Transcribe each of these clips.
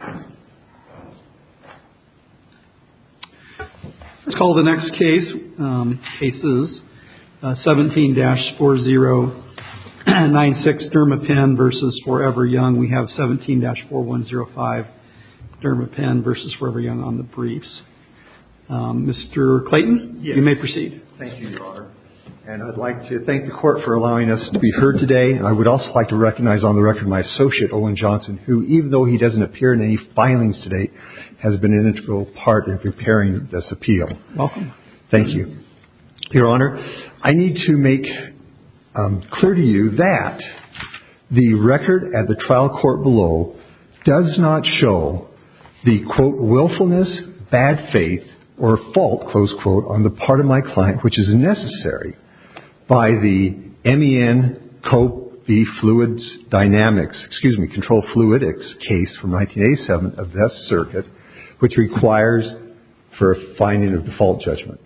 Let's call the next case, 17-4096, Derma Pen v. 4EverYoung. We have 17-4105, Derma Pen v. 4EverYoung on the briefs. Mr. Clayton, you may proceed. Thank you, Your Honor. And I'd like to thank the Court for allowing us to be heard today. I would also like to recognize on the record my associate, Owen Johnson, who, even though he doesn't appear in any filings to date, has been an integral part in preparing this appeal. Welcome. Thank you. Your Honor, I need to make clear to you that the record at the trial court below does not show the, quote, willfulness, bad faith, or fault, close quote, on the part of my client which is necessary by the MEN, quote, the fluids dynamics, excuse me, control fluidics case from 1987 of Death Circuit, which requires for a finding of default judgment.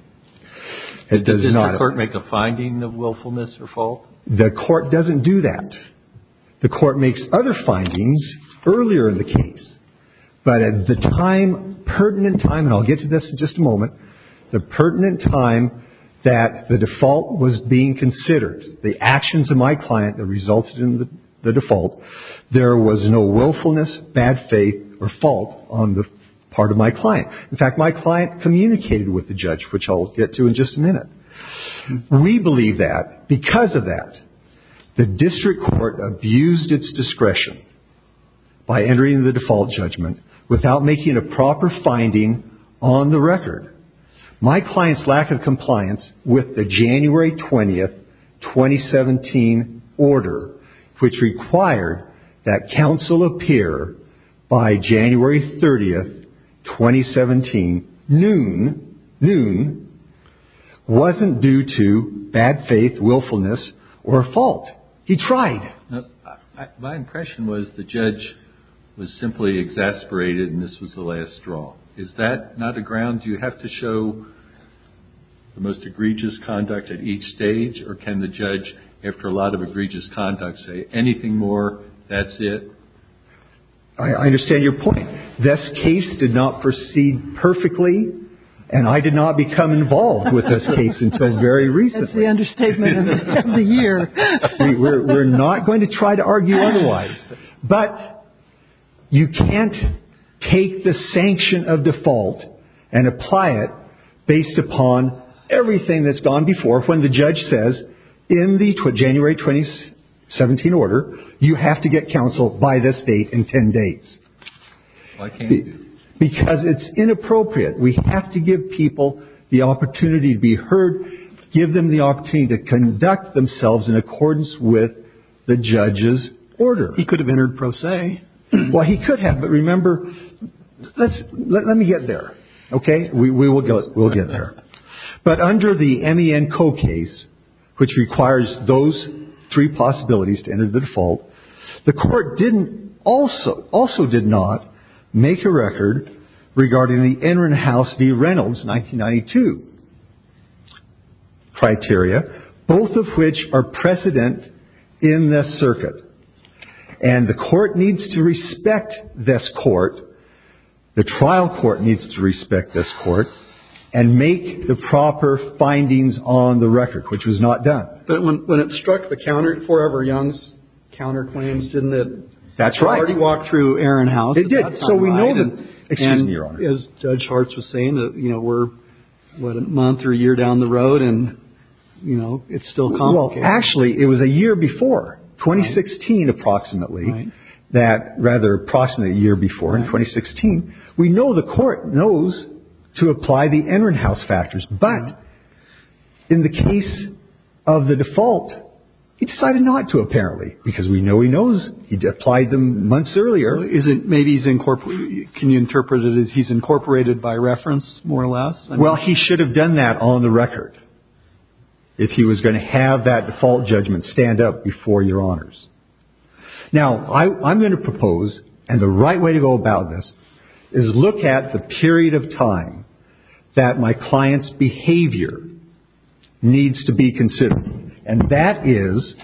Does the Court make a finding of willfulness or fault? The Court doesn't do that. The Court makes other findings earlier in the case, but at the time, pertinent time, and I'll get to this in just a moment, the pertinent time that the default was being considered, the actions of my client that resulted in the default, there was no willfulness, bad faith, or fault on the part of my client. In fact, my client communicated with the judge, which I'll get to in just a minute. We believe that because of that, the district court abused its discretion by entering the default judgment without making a proper finding on the record. My client's lack of compliance with the January 20th, 2017 order, which required that counsel appear by January 30th, 2017, noon, noon, wasn't due to bad faith, willfulness, or fault. He tried. My impression was the judge was simply exasperated, and this was the last straw. Is that not a ground you have to show the most egregious conduct at each stage, or can the judge, after a lot of egregious conduct, say anything more, that's it? I understand your point. This case did not proceed perfectly, and I did not become involved with this case until very recently. That's the understatement of the year. We're not going to try to argue otherwise. But you can't take the sanction of default and apply it based upon everything that's gone before when the judge says, in the January 2017 order, you have to get counsel by this date in ten days. Why can't you? Because it's inappropriate. We have to give people the opportunity to be heard, give them the opportunity to conduct themselves in accordance with the judge's order. He could have entered pro se. Well, he could have, but remember, let me get there, okay? We will get there. But under the M.E.N. Coe case, which requires those three possibilities to enter the default, the court also did not make a record regarding the Enron House v. Reynolds 1992 criteria, both of which are precedent in this circuit. And the court needs to respect this court. The trial court needs to respect this court and make the proper findings on the record, which was not done. But when it struck the counter forever, Young's counterclaims, didn't it? That's right. It already walked through Erin House. It did. So we know that. Excuse me, Your Honor. As Judge Hartz was saying, you know, we're, what, a month or a year down the road, and, you know, it's still complicated. Well, actually, it was a year before. 2016, approximately. Right. That, rather, approximately a year before, in 2016. We know the court knows to apply the Enron House factors, but in the case of the default, he decided not to, apparently, because we know he knows. He applied them months earlier. Maybe he's, can you interpret it as he's incorporated by reference, more or less? Well, he should have done that on the record if he was going to have that default judgment stand up before Your Honors. Now, I'm going to propose, and the right way to go about this is look at the period of time that my client's behavior needs to be considered, and that is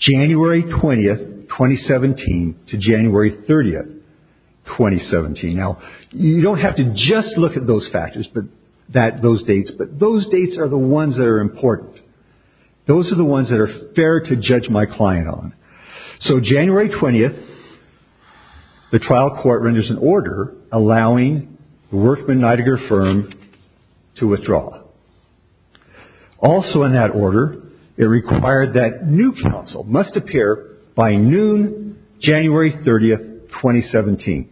January 20th, 2017, to January 30th, 2017. Now, you don't have to just look at those factors, but that, those dates, but those dates are the ones that are important. Those are the ones that are fair to judge my client on. So, January 20th, the trial court renders an order allowing the Workman Nidegger firm to withdraw. Also in that order, it required that new counsel must appear by noon, January 30th, 2017,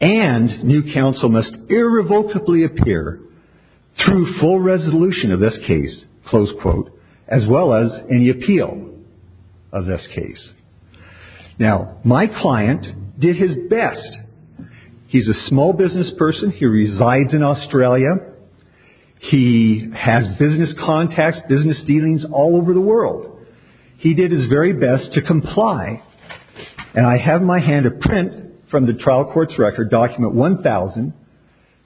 and new counsel must irrevocably appear through full resolution of this case, close quote, as well as any appeal of this case. Now, my client did his best. He's a small business person. He resides in Australia. He has business contacts, business dealings all over the world. He did his very best to comply, and I have in my hand a print from the trial court's record, document 1000,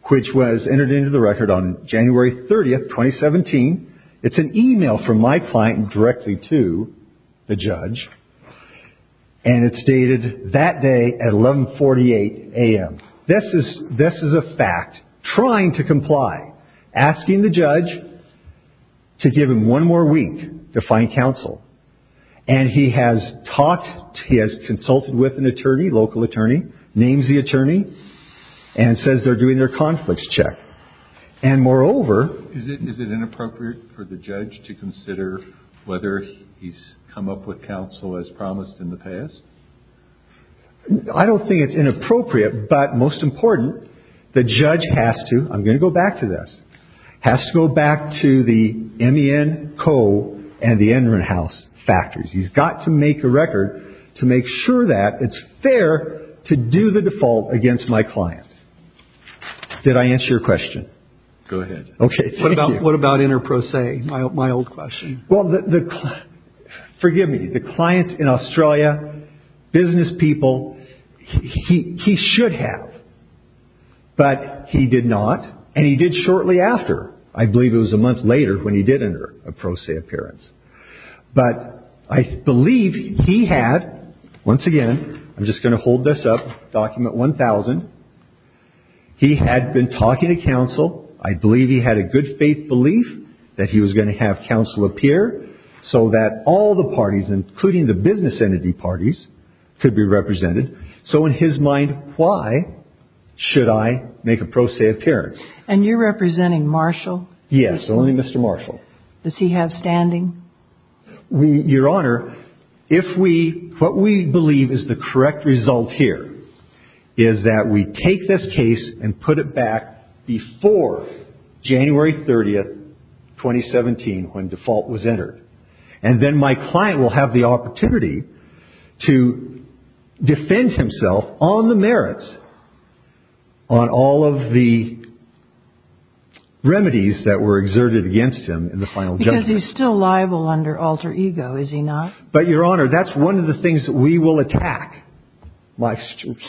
which was entered into the record on January 30th, 2017. It's an email from my client directly to the judge, and it's dated that day at 1148 a.m. This is a fact, trying to comply, asking the judge to give him one more week to find counsel. And he has talked, he has consulted with an attorney, local attorney, names the attorney, and says they're doing their conflicts check. And moreover. Is it inappropriate for the judge to consider whether he's come up with counsel as promised in the past? I don't think it's inappropriate, but most important, the judge has to, I'm going to go back to this, has to go back to the MEN Co. and the Enron House factors. He's got to make a record to make sure that it's fair to do the default against my client. Did I answer your question? Go ahead. Okay, thank you. What about inter pro se, my old question? Well, forgive me, the clients in Australia, business people, he should have. But he did not, and he did shortly after. I believe it was a month later when he did enter a pro se appearance. But I believe he had, once again, I'm just going to hold this up, document 1000. He had been talking to counsel. I believe he had a good faith belief that he was going to have counsel appear so that all the parties, including the business entity parties, could be represented. So in his mind, why should I make a pro se appearance? And you're representing Marshall? Yes, only Mr. Marshall. Does he have standing? Your Honor, what we believe is the correct result here is that we take this case and put it back before January 30, 2017, when default was entered. And then my client will have the opportunity to defend himself on the merits, on all of the remedies that were exerted against him in the final judgment. Because he's still liable under alter ego, is he not? But, Your Honor, that's one of the things that we will attack.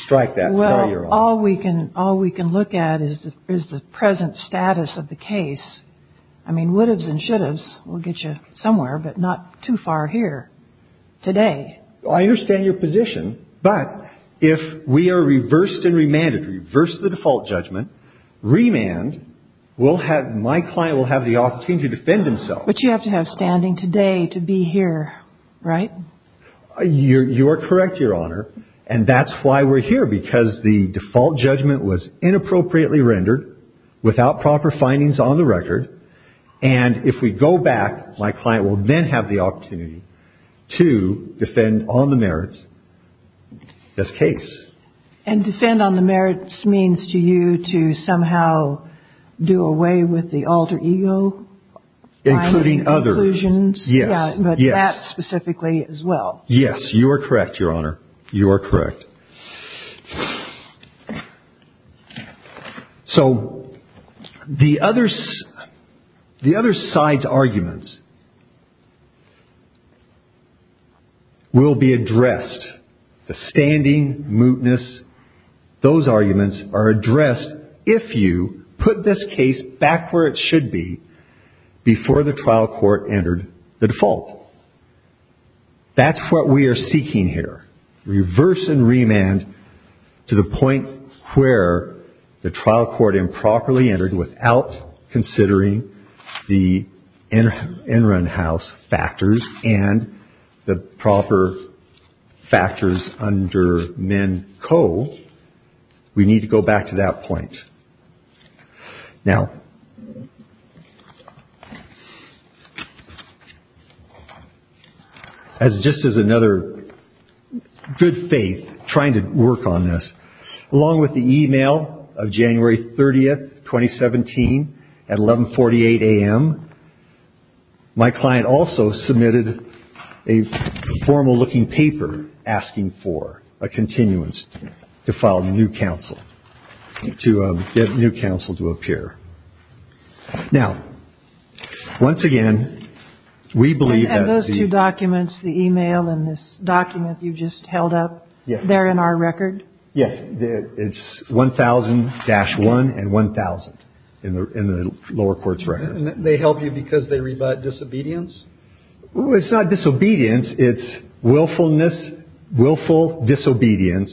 Strike that. All we can look at is the present status of the case. I mean, would haves and should haves will get you somewhere, but not too far here today. I understand your position. But if we are reversed and remanded, reverse the default judgment, remand, my client will have the opportunity to defend himself. But you have to have standing today to be here, right? You are correct, Your Honor. And that's why we're here, because the default judgment was inappropriately rendered, without proper findings on the record. And if we go back, my client will then have the opportunity to defend on the merits this case. And defend on the merits means to you to somehow do away with the alter ego? Including others. Inclusions? Yes. But that specifically as well? Yes, you are correct, Your Honor. You are correct. So, the other side's arguments will be addressed. The standing, mootness, those arguments are addressed if you put this case back where it should be before the trial court entered the default. That's what we are seeking here. Reverse and remand to the point where the trial court improperly entered without considering the in-run house factors and the proper factors under men co. We need to go back to that point. Now, as just as another good faith trying to work on this, along with the e-mail of January 30, 2017, at 11.48 a.m., my client also submitted a formal looking paper asking for a continuance to file a new counsel, to get a new counsel to appear. Now, once again, we believe that the... And those two documents, the e-mail and this document you just held up, they're in our record? Yes. It's 1000-1 and 1000 in the lower court's record. And they help you because they read about disobedience? It's not disobedience. It's willfulness, willful disobedience.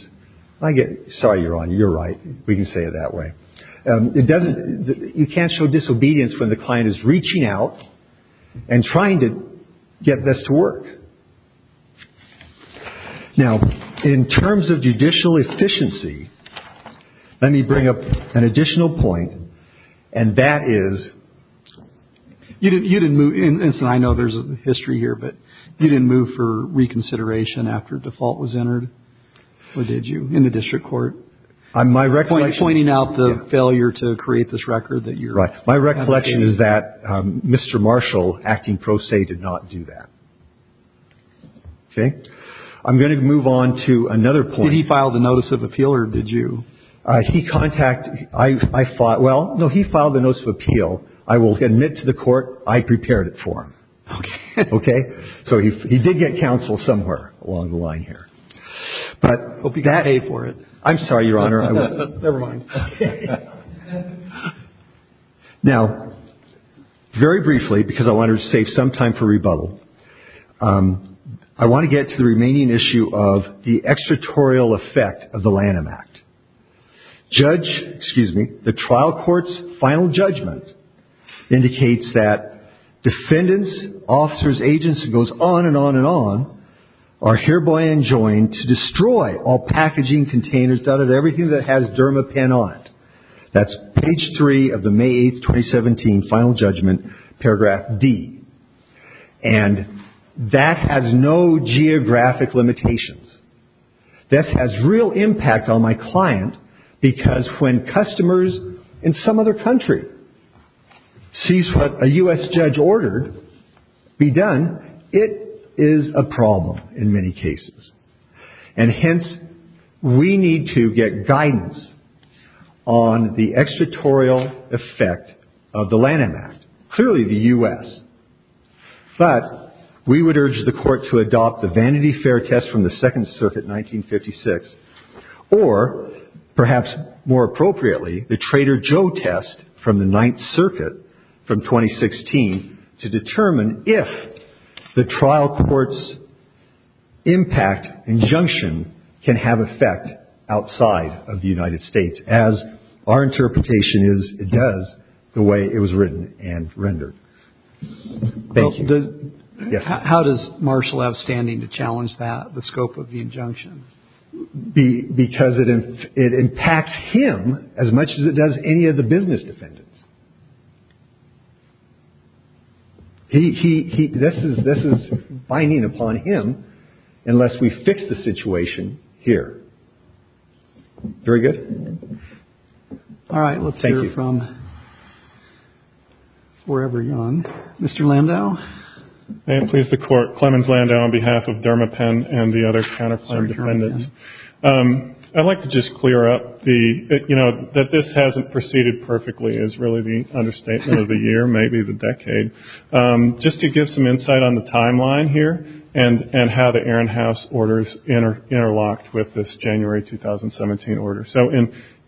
Sorry, Your Honor, you're right. We can say it that way. You can't show disobedience when the client is reaching out and trying to get this to work. Now, in terms of judicial efficiency, let me bring up an additional point, and that is... You didn't move... And I know there's a history here, but you didn't move for reconsideration after default was entered, or did you, in the district court? My recollection... Pointing out the failure to create this record that you're... My recollection is that Mr. Marshall, acting pro se, did not do that. Okay? I'm going to move on to another point. Did he file the notice of appeal, or did you? He contacted... I thought, well, no, he filed the notice of appeal. I will admit to the court I prepared it for him. Okay. Okay? So he did get counsel somewhere along the line here. But... I hope you can pay for it. I'm sorry, Your Honor. Never mind. Now, very briefly, because I wanted to save some time for rebuttal, I want to get to the remaining issue of the extraterritorial effect of the Lanham Act. Judge... Excuse me. The trial court's final judgment indicates that defendants, officers, agents, and it goes on and on and on, are hereby enjoined to destroy all packaging containers that have everything that has Dermapen on it. That's page three of the May 8th, 2017, final judgment, paragraph D. And that has no geographic limitations. This has real impact on my client, because when customers in some other country sees what a U.S. judge ordered be done, it is a problem in many cases. And hence, we need to get guidance on the extraterritorial effect of the Lanham Act, clearly the U.S. But we would urge the court to adopt the Vanity Fair test from the Second Circuit, 1956, or perhaps more appropriately, the Trader Joe test from the Ninth Circuit from 2016, to determine if the trial court's impact injunction can have effect outside of the United States, as our interpretation is it does, the way it was written and rendered. Thank you. How does Marshall have standing to challenge that, the scope of the injunction? Because it impacts him as much as it does any of the business defendants. This is binding upon him, unless we fix the situation here. Very good. All right, let's hear from wherever you're on. Mr. Landau? May it please the Court. Clemens Landau on behalf of Dermapen and the other counterclaim defendants. I'd like to just clear up that this hasn't proceeded perfectly, is really the understatement of the year, maybe the decade, just to give some insight on the timeline here, and how the Aaron House orders interlocked with this January 2017 order. So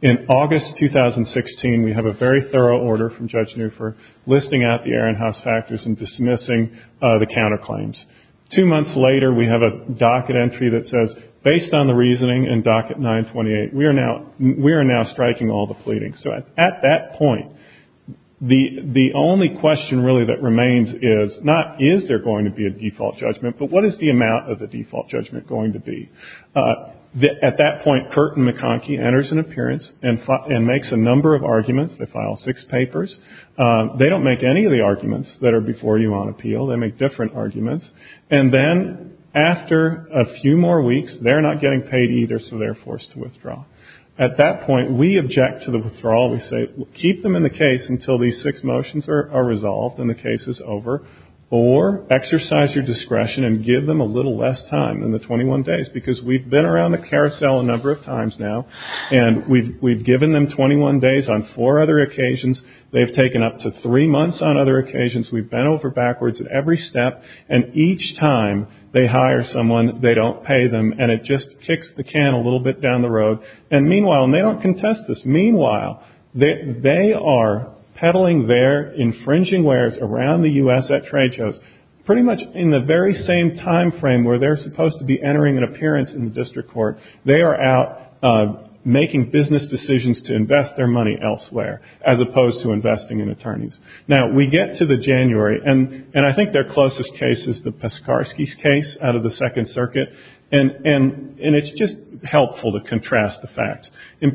in August 2016, we have a very thorough order from Judge Neufer, listing out the Aaron House factors and dismissing the counterclaims. Two months later, we have a docket entry that says, based on the reasoning in docket 928, we are now striking all the pleadings. So at that point, the only question really that remains is, not is there going to be a default judgment, but what is the amount of the default judgment going to be? At that point, Curtin McConkie enters an appearance and makes a number of arguments. They file six papers. They don't make any of the arguments that are before you on appeal. They make different arguments. And then after a few more weeks, they're not getting paid either, so they're forced to withdraw. At that point, we object to the withdrawal. We say, keep them in the case until these six motions are resolved and the case is over, or exercise your discretion and give them a little less time in the 21 days. Because we've been around the carousel a number of times now, and we've given them 21 days on four other occasions. They've taken up to three months on other occasions. We've bent over backwards at every step. And each time they hire someone, they don't pay them, and it just kicks the can a little bit down the road. And meanwhile, and they don't contest this, they are peddling their infringing wares around the U.S. at trade shows. Pretty much in the very same time frame where they're supposed to be entering an appearance in the district court, they are out making business decisions to invest their money elsewhere, as opposed to investing in attorneys. Now, we get to the January, and I think their closest case is the Peskarsky case out of the Second Circuit. In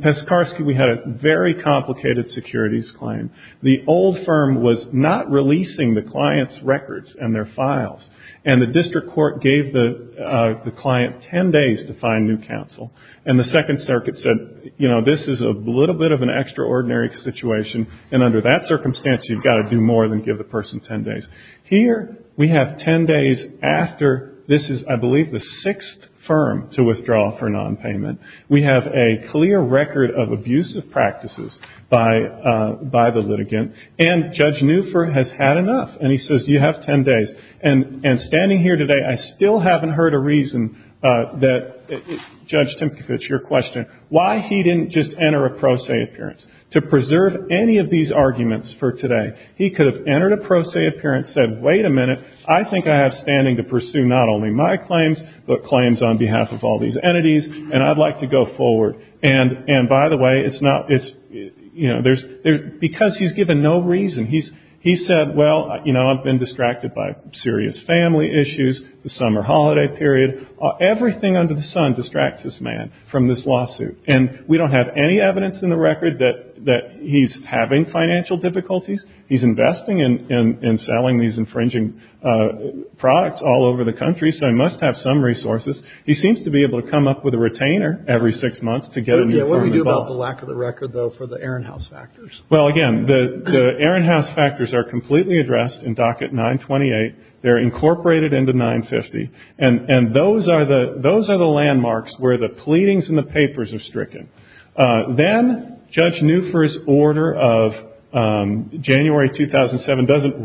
Peskarsky, we had a very complicated securities claim. The old firm was not releasing the client's records and their files, and the district court gave the client 10 days to find new counsel. And the Second Circuit said, you know, this is a little bit of an extraordinary situation, and under that circumstance, you've got to do more than give the person 10 days. Here, we have 10 days after this is, I believe, the sixth firm to withdraw for nonpayment. We have a clear record of abusive practices by the litigant. And Judge Newford has had enough, and he says, you have 10 days. And standing here today, I still haven't heard a reason that Judge Timkovich, your question, why he didn't just enter a pro se appearance. To preserve any of these arguments for today, he could have entered a pro se appearance, said, wait a minute, I think I have standing to pursue not only my claims, but claims on behalf of all these entities, and I'd like to go forward. And, by the way, it's not, you know, because he's given no reason. He said, well, you know, I've been distracted by serious family issues, the summer holiday period. Everything under the sun distracts this man from this lawsuit. And we don't have any evidence in the record that he's having financial difficulties. He's investing in selling these infringing products all over the country, so he must have some resources. He seems to be able to come up with a retainer every six months to get a new firm involved. What do you do about the lack of the record, though, for the Ehrenhaus factors? Well, again, the Ehrenhaus factors are completely addressed in docket 928. They're incorporated into 950. And those are the landmarks where the pleadings and the papers are stricken. Then Judge Newford's order of January 2007 doesn't,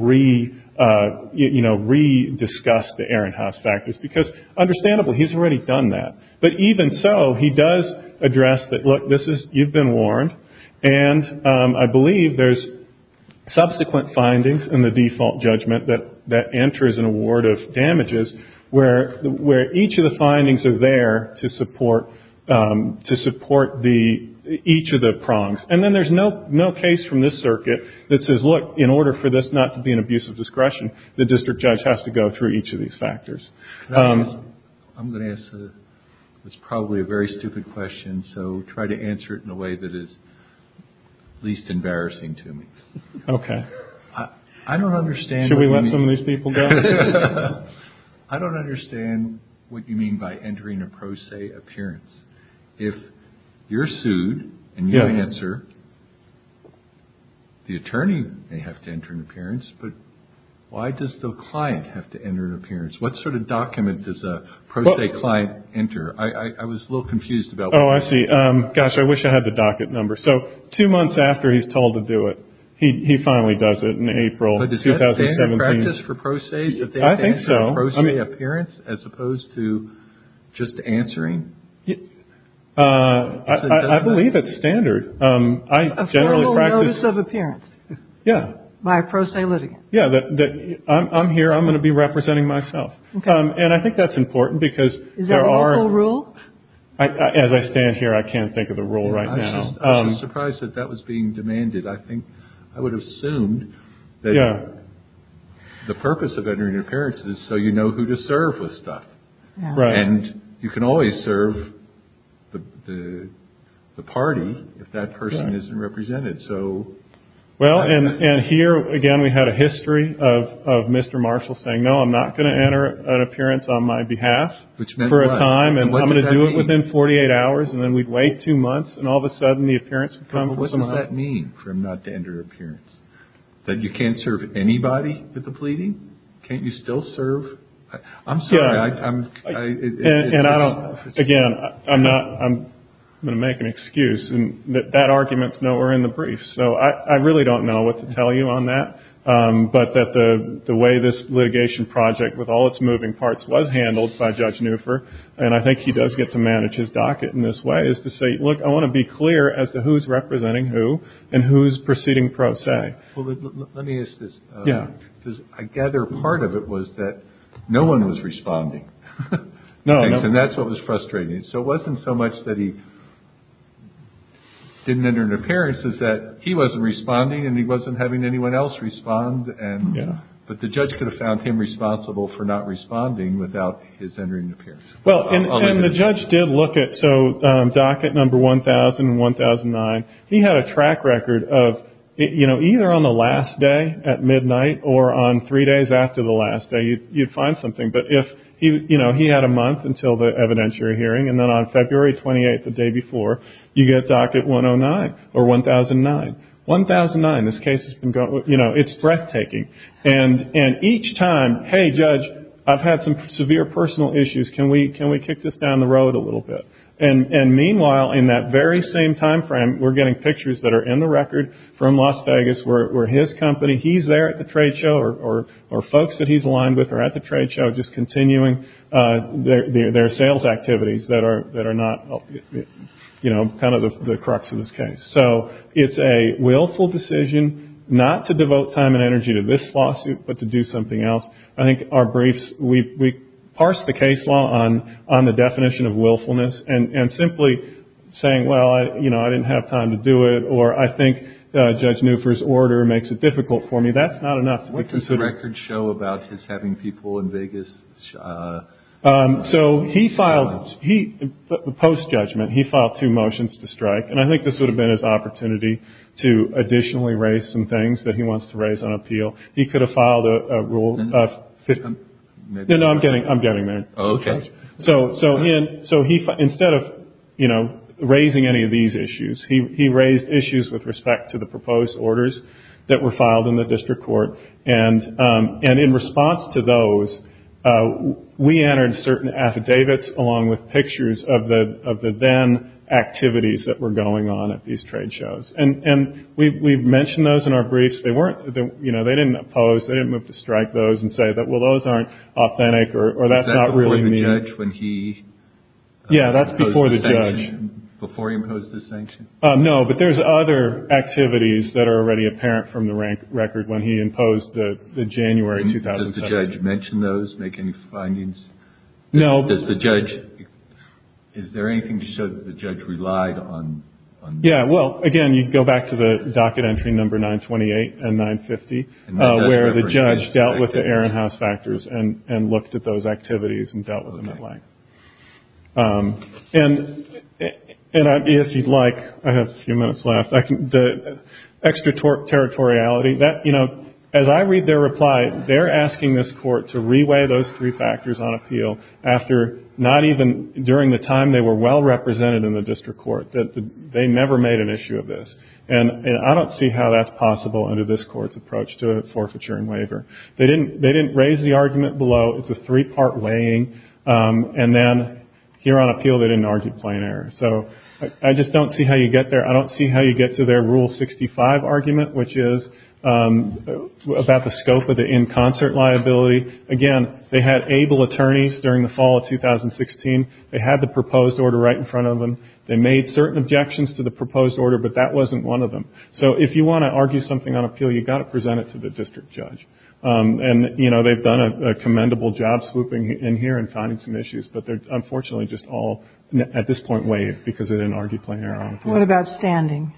you know, rediscuss the Ehrenhaus factors, because understandable, he's already done that. But even so, he does address that, look, you've been warned, and I believe there's subsequent findings in the default judgment that enters an award of damages where each of the findings are there to support each of the prongs. And then there's no case from this circuit that says, look, in order for this not to be an abuse of discretion, the district judge has to go through each of these factors. I'm going to ask what's probably a very stupid question, so try to answer it in a way that is least embarrassing to me. Okay. I don't understand what you mean. Should we let some of these people go? I don't understand what you mean by entering a pro se appearance. If you're sued and you answer, the attorney may have to enter an appearance, but why does the client have to enter an appearance? What sort of document does a pro se client enter? I was a little confused about that. Oh, I see. Gosh, I wish I had the docket number. So two months after he's told to do it, he finally does it in April 2017. But is that standard practice for pro ses? I think so. Appearance as opposed to just answering? I believe it's standard. I generally practice. A formal notice of appearance. Yeah. By a pro se litigant. Yeah. I'm here. I'm going to be representing myself. Okay. And I think that's important because there are. Is that a legal rule? As I stand here, I can't think of a rule right now. I'm surprised that that was being demanded. I would have assumed that the purpose of entering an appearance is so you know who to serve with stuff. Right. And you can always serve the party if that person isn't represented. Well, and here, again, we had a history of Mr. Marshall saying, no, I'm not going to enter an appearance on my behalf. Which meant what? For a time. And what did that mean? And I'm going to do it within 48 hours. And then we'd wait two months. And all of a sudden, the appearance would come. Well, what does that mean for him not to enter an appearance? That you can't serve anybody with the pleading? Can't you still serve? I'm sorry. I'm. And I don't. Again, I'm not. I'm going to make an excuse. And that argument's nowhere in the brief. So I really don't know what to tell you on that. But that the way this litigation project, with all its moving parts, was handled by Judge Neufer. And I think he does get to manage his docket in this way, is to say, look, I want to be clear as to who's representing who and who's proceeding pro se. Well, let me ask this. Yeah. Because I gather part of it was that no one was responding. No. And that's what was frustrating. So it wasn't so much that he didn't enter an appearance, is that he wasn't responding and he wasn't having anyone else respond. But the judge could have found him responsible for not responding without his entering an appearance. And the judge did look at. So docket number 1,000 and 1,009. He had a track record of, you know, either on the last day at midnight or on three days after the last day, you'd find something. But if, you know, he had a month until the evidentiary hearing. And then on February 28th, the day before, you get docket 109 or 1,009. 1,009. This case has been going. You know, it's breathtaking. And each time, hey, judge, I've had some severe personal issues. Can we kick this down the road a little bit? And meanwhile, in that very same time frame, we're getting pictures that are in the record from Las Vegas where his company, he's there at the trade show or folks that he's aligned with are at the trade show just continuing their sales activities that are not, you know, kind of the crux of this case. So it's a willful decision not to devote time and energy to this lawsuit but to do something else. I think our briefs, we parsed the case law on the definition of willfulness and simply saying, well, you know, I didn't have time to do it or I think Judge Neufer's order makes it difficult for me. That's not enough. What does the record show about his having people in Vegas? So he filed, post-judgment, he filed two motions to strike. And I think this would have been his opportunity to additionally raise some things that he wants to raise on appeal. He could have filed a rule of- No, no, I'm getting there. Okay. So he, instead of, you know, raising any of these issues, he raised issues with respect to the proposed orders that were filed in the district court. And in response to those, we entered certain affidavits along with pictures of the then activities that were going on at these trade shows. And we mentioned those in our briefs. They weren't, you know, they didn't oppose. They didn't move to strike those and say, well, those aren't authentic or that's not really me. Is that before the judge when he imposed the sanction? Yeah, that's before the judge. Before he imposed the sanction? No, but there's other activities that are already apparent from the record when he imposed the January 2007- Did the judge mention those, make any findings? No. Does the judge, is there anything to show that the judge relied on- Yeah, well, again, you go back to the docket entry number 928 and 950, where the judge dealt with the Ehrenhaus factors and looked at those activities and dealt with them at length. And if you'd like, I have a few minutes left, the extraterritoriality, you know, as I read their reply, they're asking this court to re-weigh those three factors on appeal after not even during the time they were well represented in the district court, that they never made an issue of this. And I don't see how that's possible under this court's approach to forfeiture and waiver. They didn't raise the argument below it's a three-part weighing. And then here on appeal, they didn't argue plain error. So I just don't see how you get there. I don't see how you get to their Rule 65 argument, which is about the scope of the in concert liability. Again, they had able attorneys during the fall of 2016. They had the proposed order right in front of them. They made certain objections to the proposed order, but that wasn't one of them. So if you want to argue something on appeal, you've got to present it to the district judge. And, you know, they've done a commendable job swooping in here and finding some issues, but they're unfortunately just all at this point waive because they didn't argue plain error. What about standing?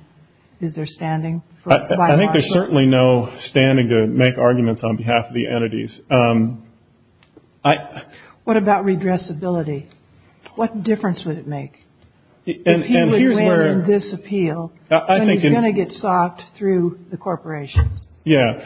Is there standing? I think there's certainly no standing to make arguments on behalf of the entities. What about redressability? What difference would it make? If he would weigh in this appeal, then he's going to get socked through the corporations. Yeah.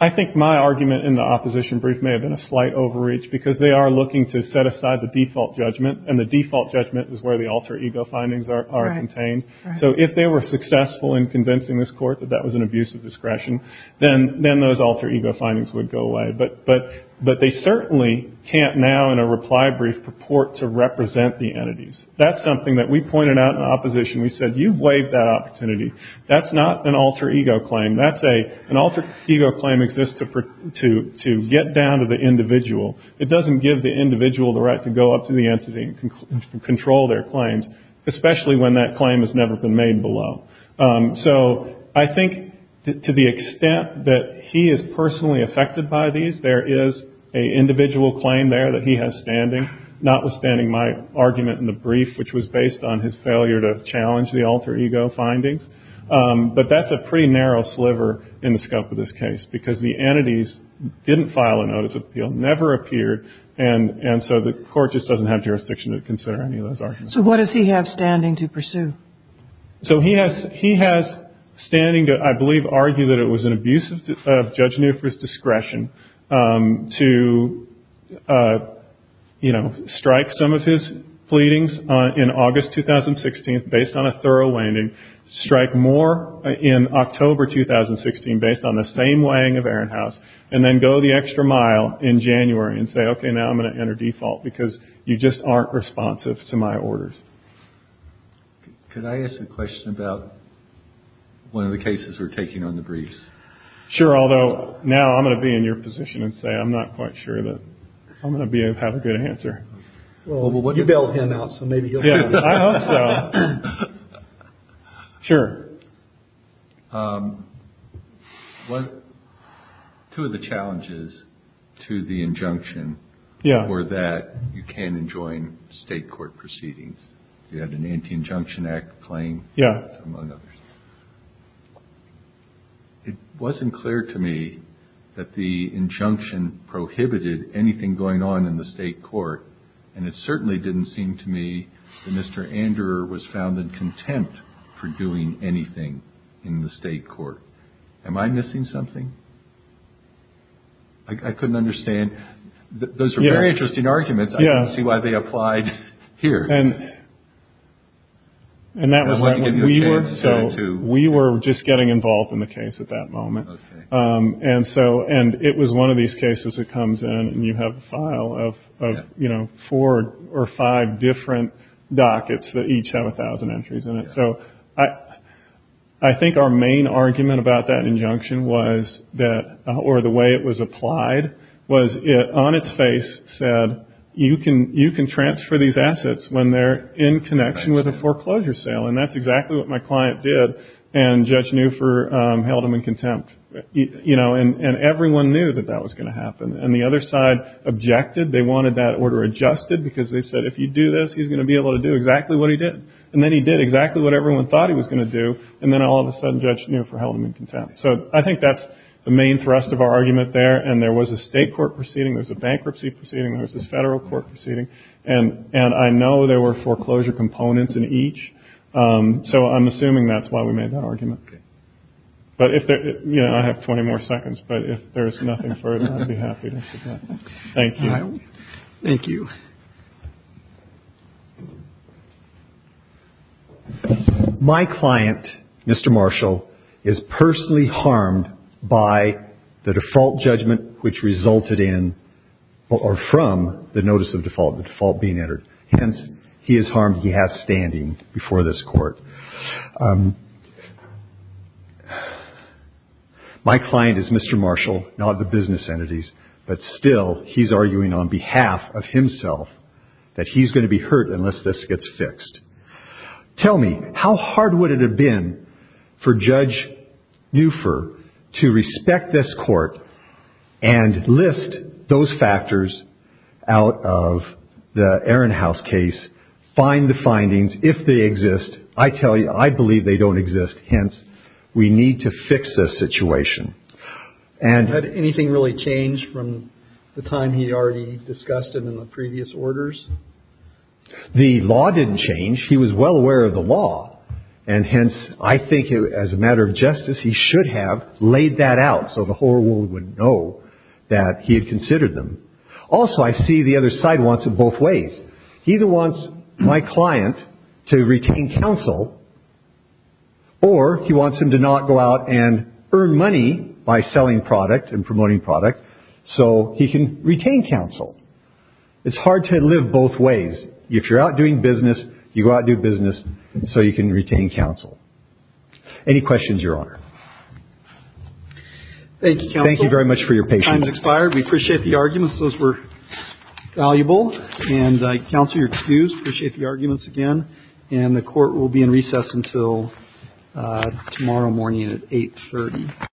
I think my argument in the opposition brief may have been a slight overreach because they are looking to set aside the default judgment, and the default judgment is where the alter ego findings are contained. So if they were successful in convincing this court that that was an abuse of discretion, then those alter ego findings would go away. But they certainly can't now in a reply brief purport to represent the entities. That's something that we pointed out in the opposition. We said, you've waived that opportunity. That's not an alter ego claim. That's an alter ego claim exists to get down to the individual. It doesn't give the individual the right to go up to the entity and control their claims, especially when that claim has never been made below. So I think to the extent that he is personally affected by these, there is an individual claim there that he has standing, notwithstanding my argument in the brief, which was based on his failure to challenge the alter ego findings. But that's a pretty narrow sliver in the scope of this case because the entities didn't file a notice of appeal, never appeared, and so the court just doesn't have jurisdiction to consider any of those arguments. So what does he have standing to pursue? So he has standing to, I believe, argue that it was an abuse of Judge Newford's discretion to strike some of his pleadings in August 2016 based on a thorough landing, strike more in October 2016 based on the same weighing of Ehrenhaus, and then go the extra mile in January and say, OK, now I'm going to enter default because you just aren't responsive to my orders. Could I ask a question about one of the cases we're taking on the briefs? Sure, although now I'm going to be in your position and say I'm not quite sure that I'm going to have a good answer. You bailed him out, so maybe he'll tell you. I hope so. Sure. Two of the challenges to the injunction were that you can't enjoin state court proceedings. You had an Anti-Injunction Act claim, among others. It wasn't clear to me that the injunction prohibited anything going on in the state court, and it certainly didn't seem to me that Mr. Anderer was found in contempt for doing anything in the state court. Am I missing something? I couldn't understand. Those are very interesting arguments. I can see why they applied here. We were just getting involved in the case at that moment, and it was one of these cases that comes in and you have a file of four or five different dockets that each have 1,000 entries in it. So I think our main argument about that injunction or the way it was applied was it, on its face, said, you can transfer these assets when they're in connection with a foreclosure sale, and that's exactly what my client did, and Judge Neufer held him in contempt. And everyone knew that that was going to happen, and the other side objected. They wanted that order adjusted because they said, if you do this, he's going to be able to do exactly what he did. And then he did exactly what everyone thought he was going to do, and then all of a sudden Judge Neufer held him in contempt. So I think that's the main thrust of our argument there, and there was a state court proceeding. There was a bankruptcy proceeding. There was this federal court proceeding, and I know there were foreclosure components in each, so I'm assuming that's why we made that argument. But if there – you know, I have 20 more seconds, but if there's nothing further, I'd be happy to submit. Thank you. Thank you. My client, Mr. Marshall, is personally harmed by the default judgment which resulted in or from the notice of default, the default being entered. Hence, he is harmed. He has standing before this court. My client is Mr. Marshall, not the business entities, but still he's arguing on behalf of himself that he's going to be hurt unless this gets fixed. Tell me, how hard would it have been for Judge Neufer to respect this court and list those factors out of the Ehrenhaus case, find the findings, if they exist? I tell you, I believe they don't exist. Hence, we need to fix this situation. Had anything really changed from the time he already discussed it in the previous orders? The law didn't change. He was well aware of the law, and hence, I think as a matter of justice, he should have laid that out so the whole world would know that he had considered them. Also, I see the other side wants it both ways. He either wants my client to retain counsel or he wants him to not go out and earn money by selling product and promoting product so he can retain counsel. It's hard to live both ways. If you're out doing business, you go out and do business so you can retain counsel. Any questions, Your Honor? Thank you, counsel. Thank you very much for your patience. Time has expired. We appreciate the arguments. Those were valuable. And counsel, you're excused. Appreciate the arguments again. And the court will be in recess until tomorrow morning at 8.30.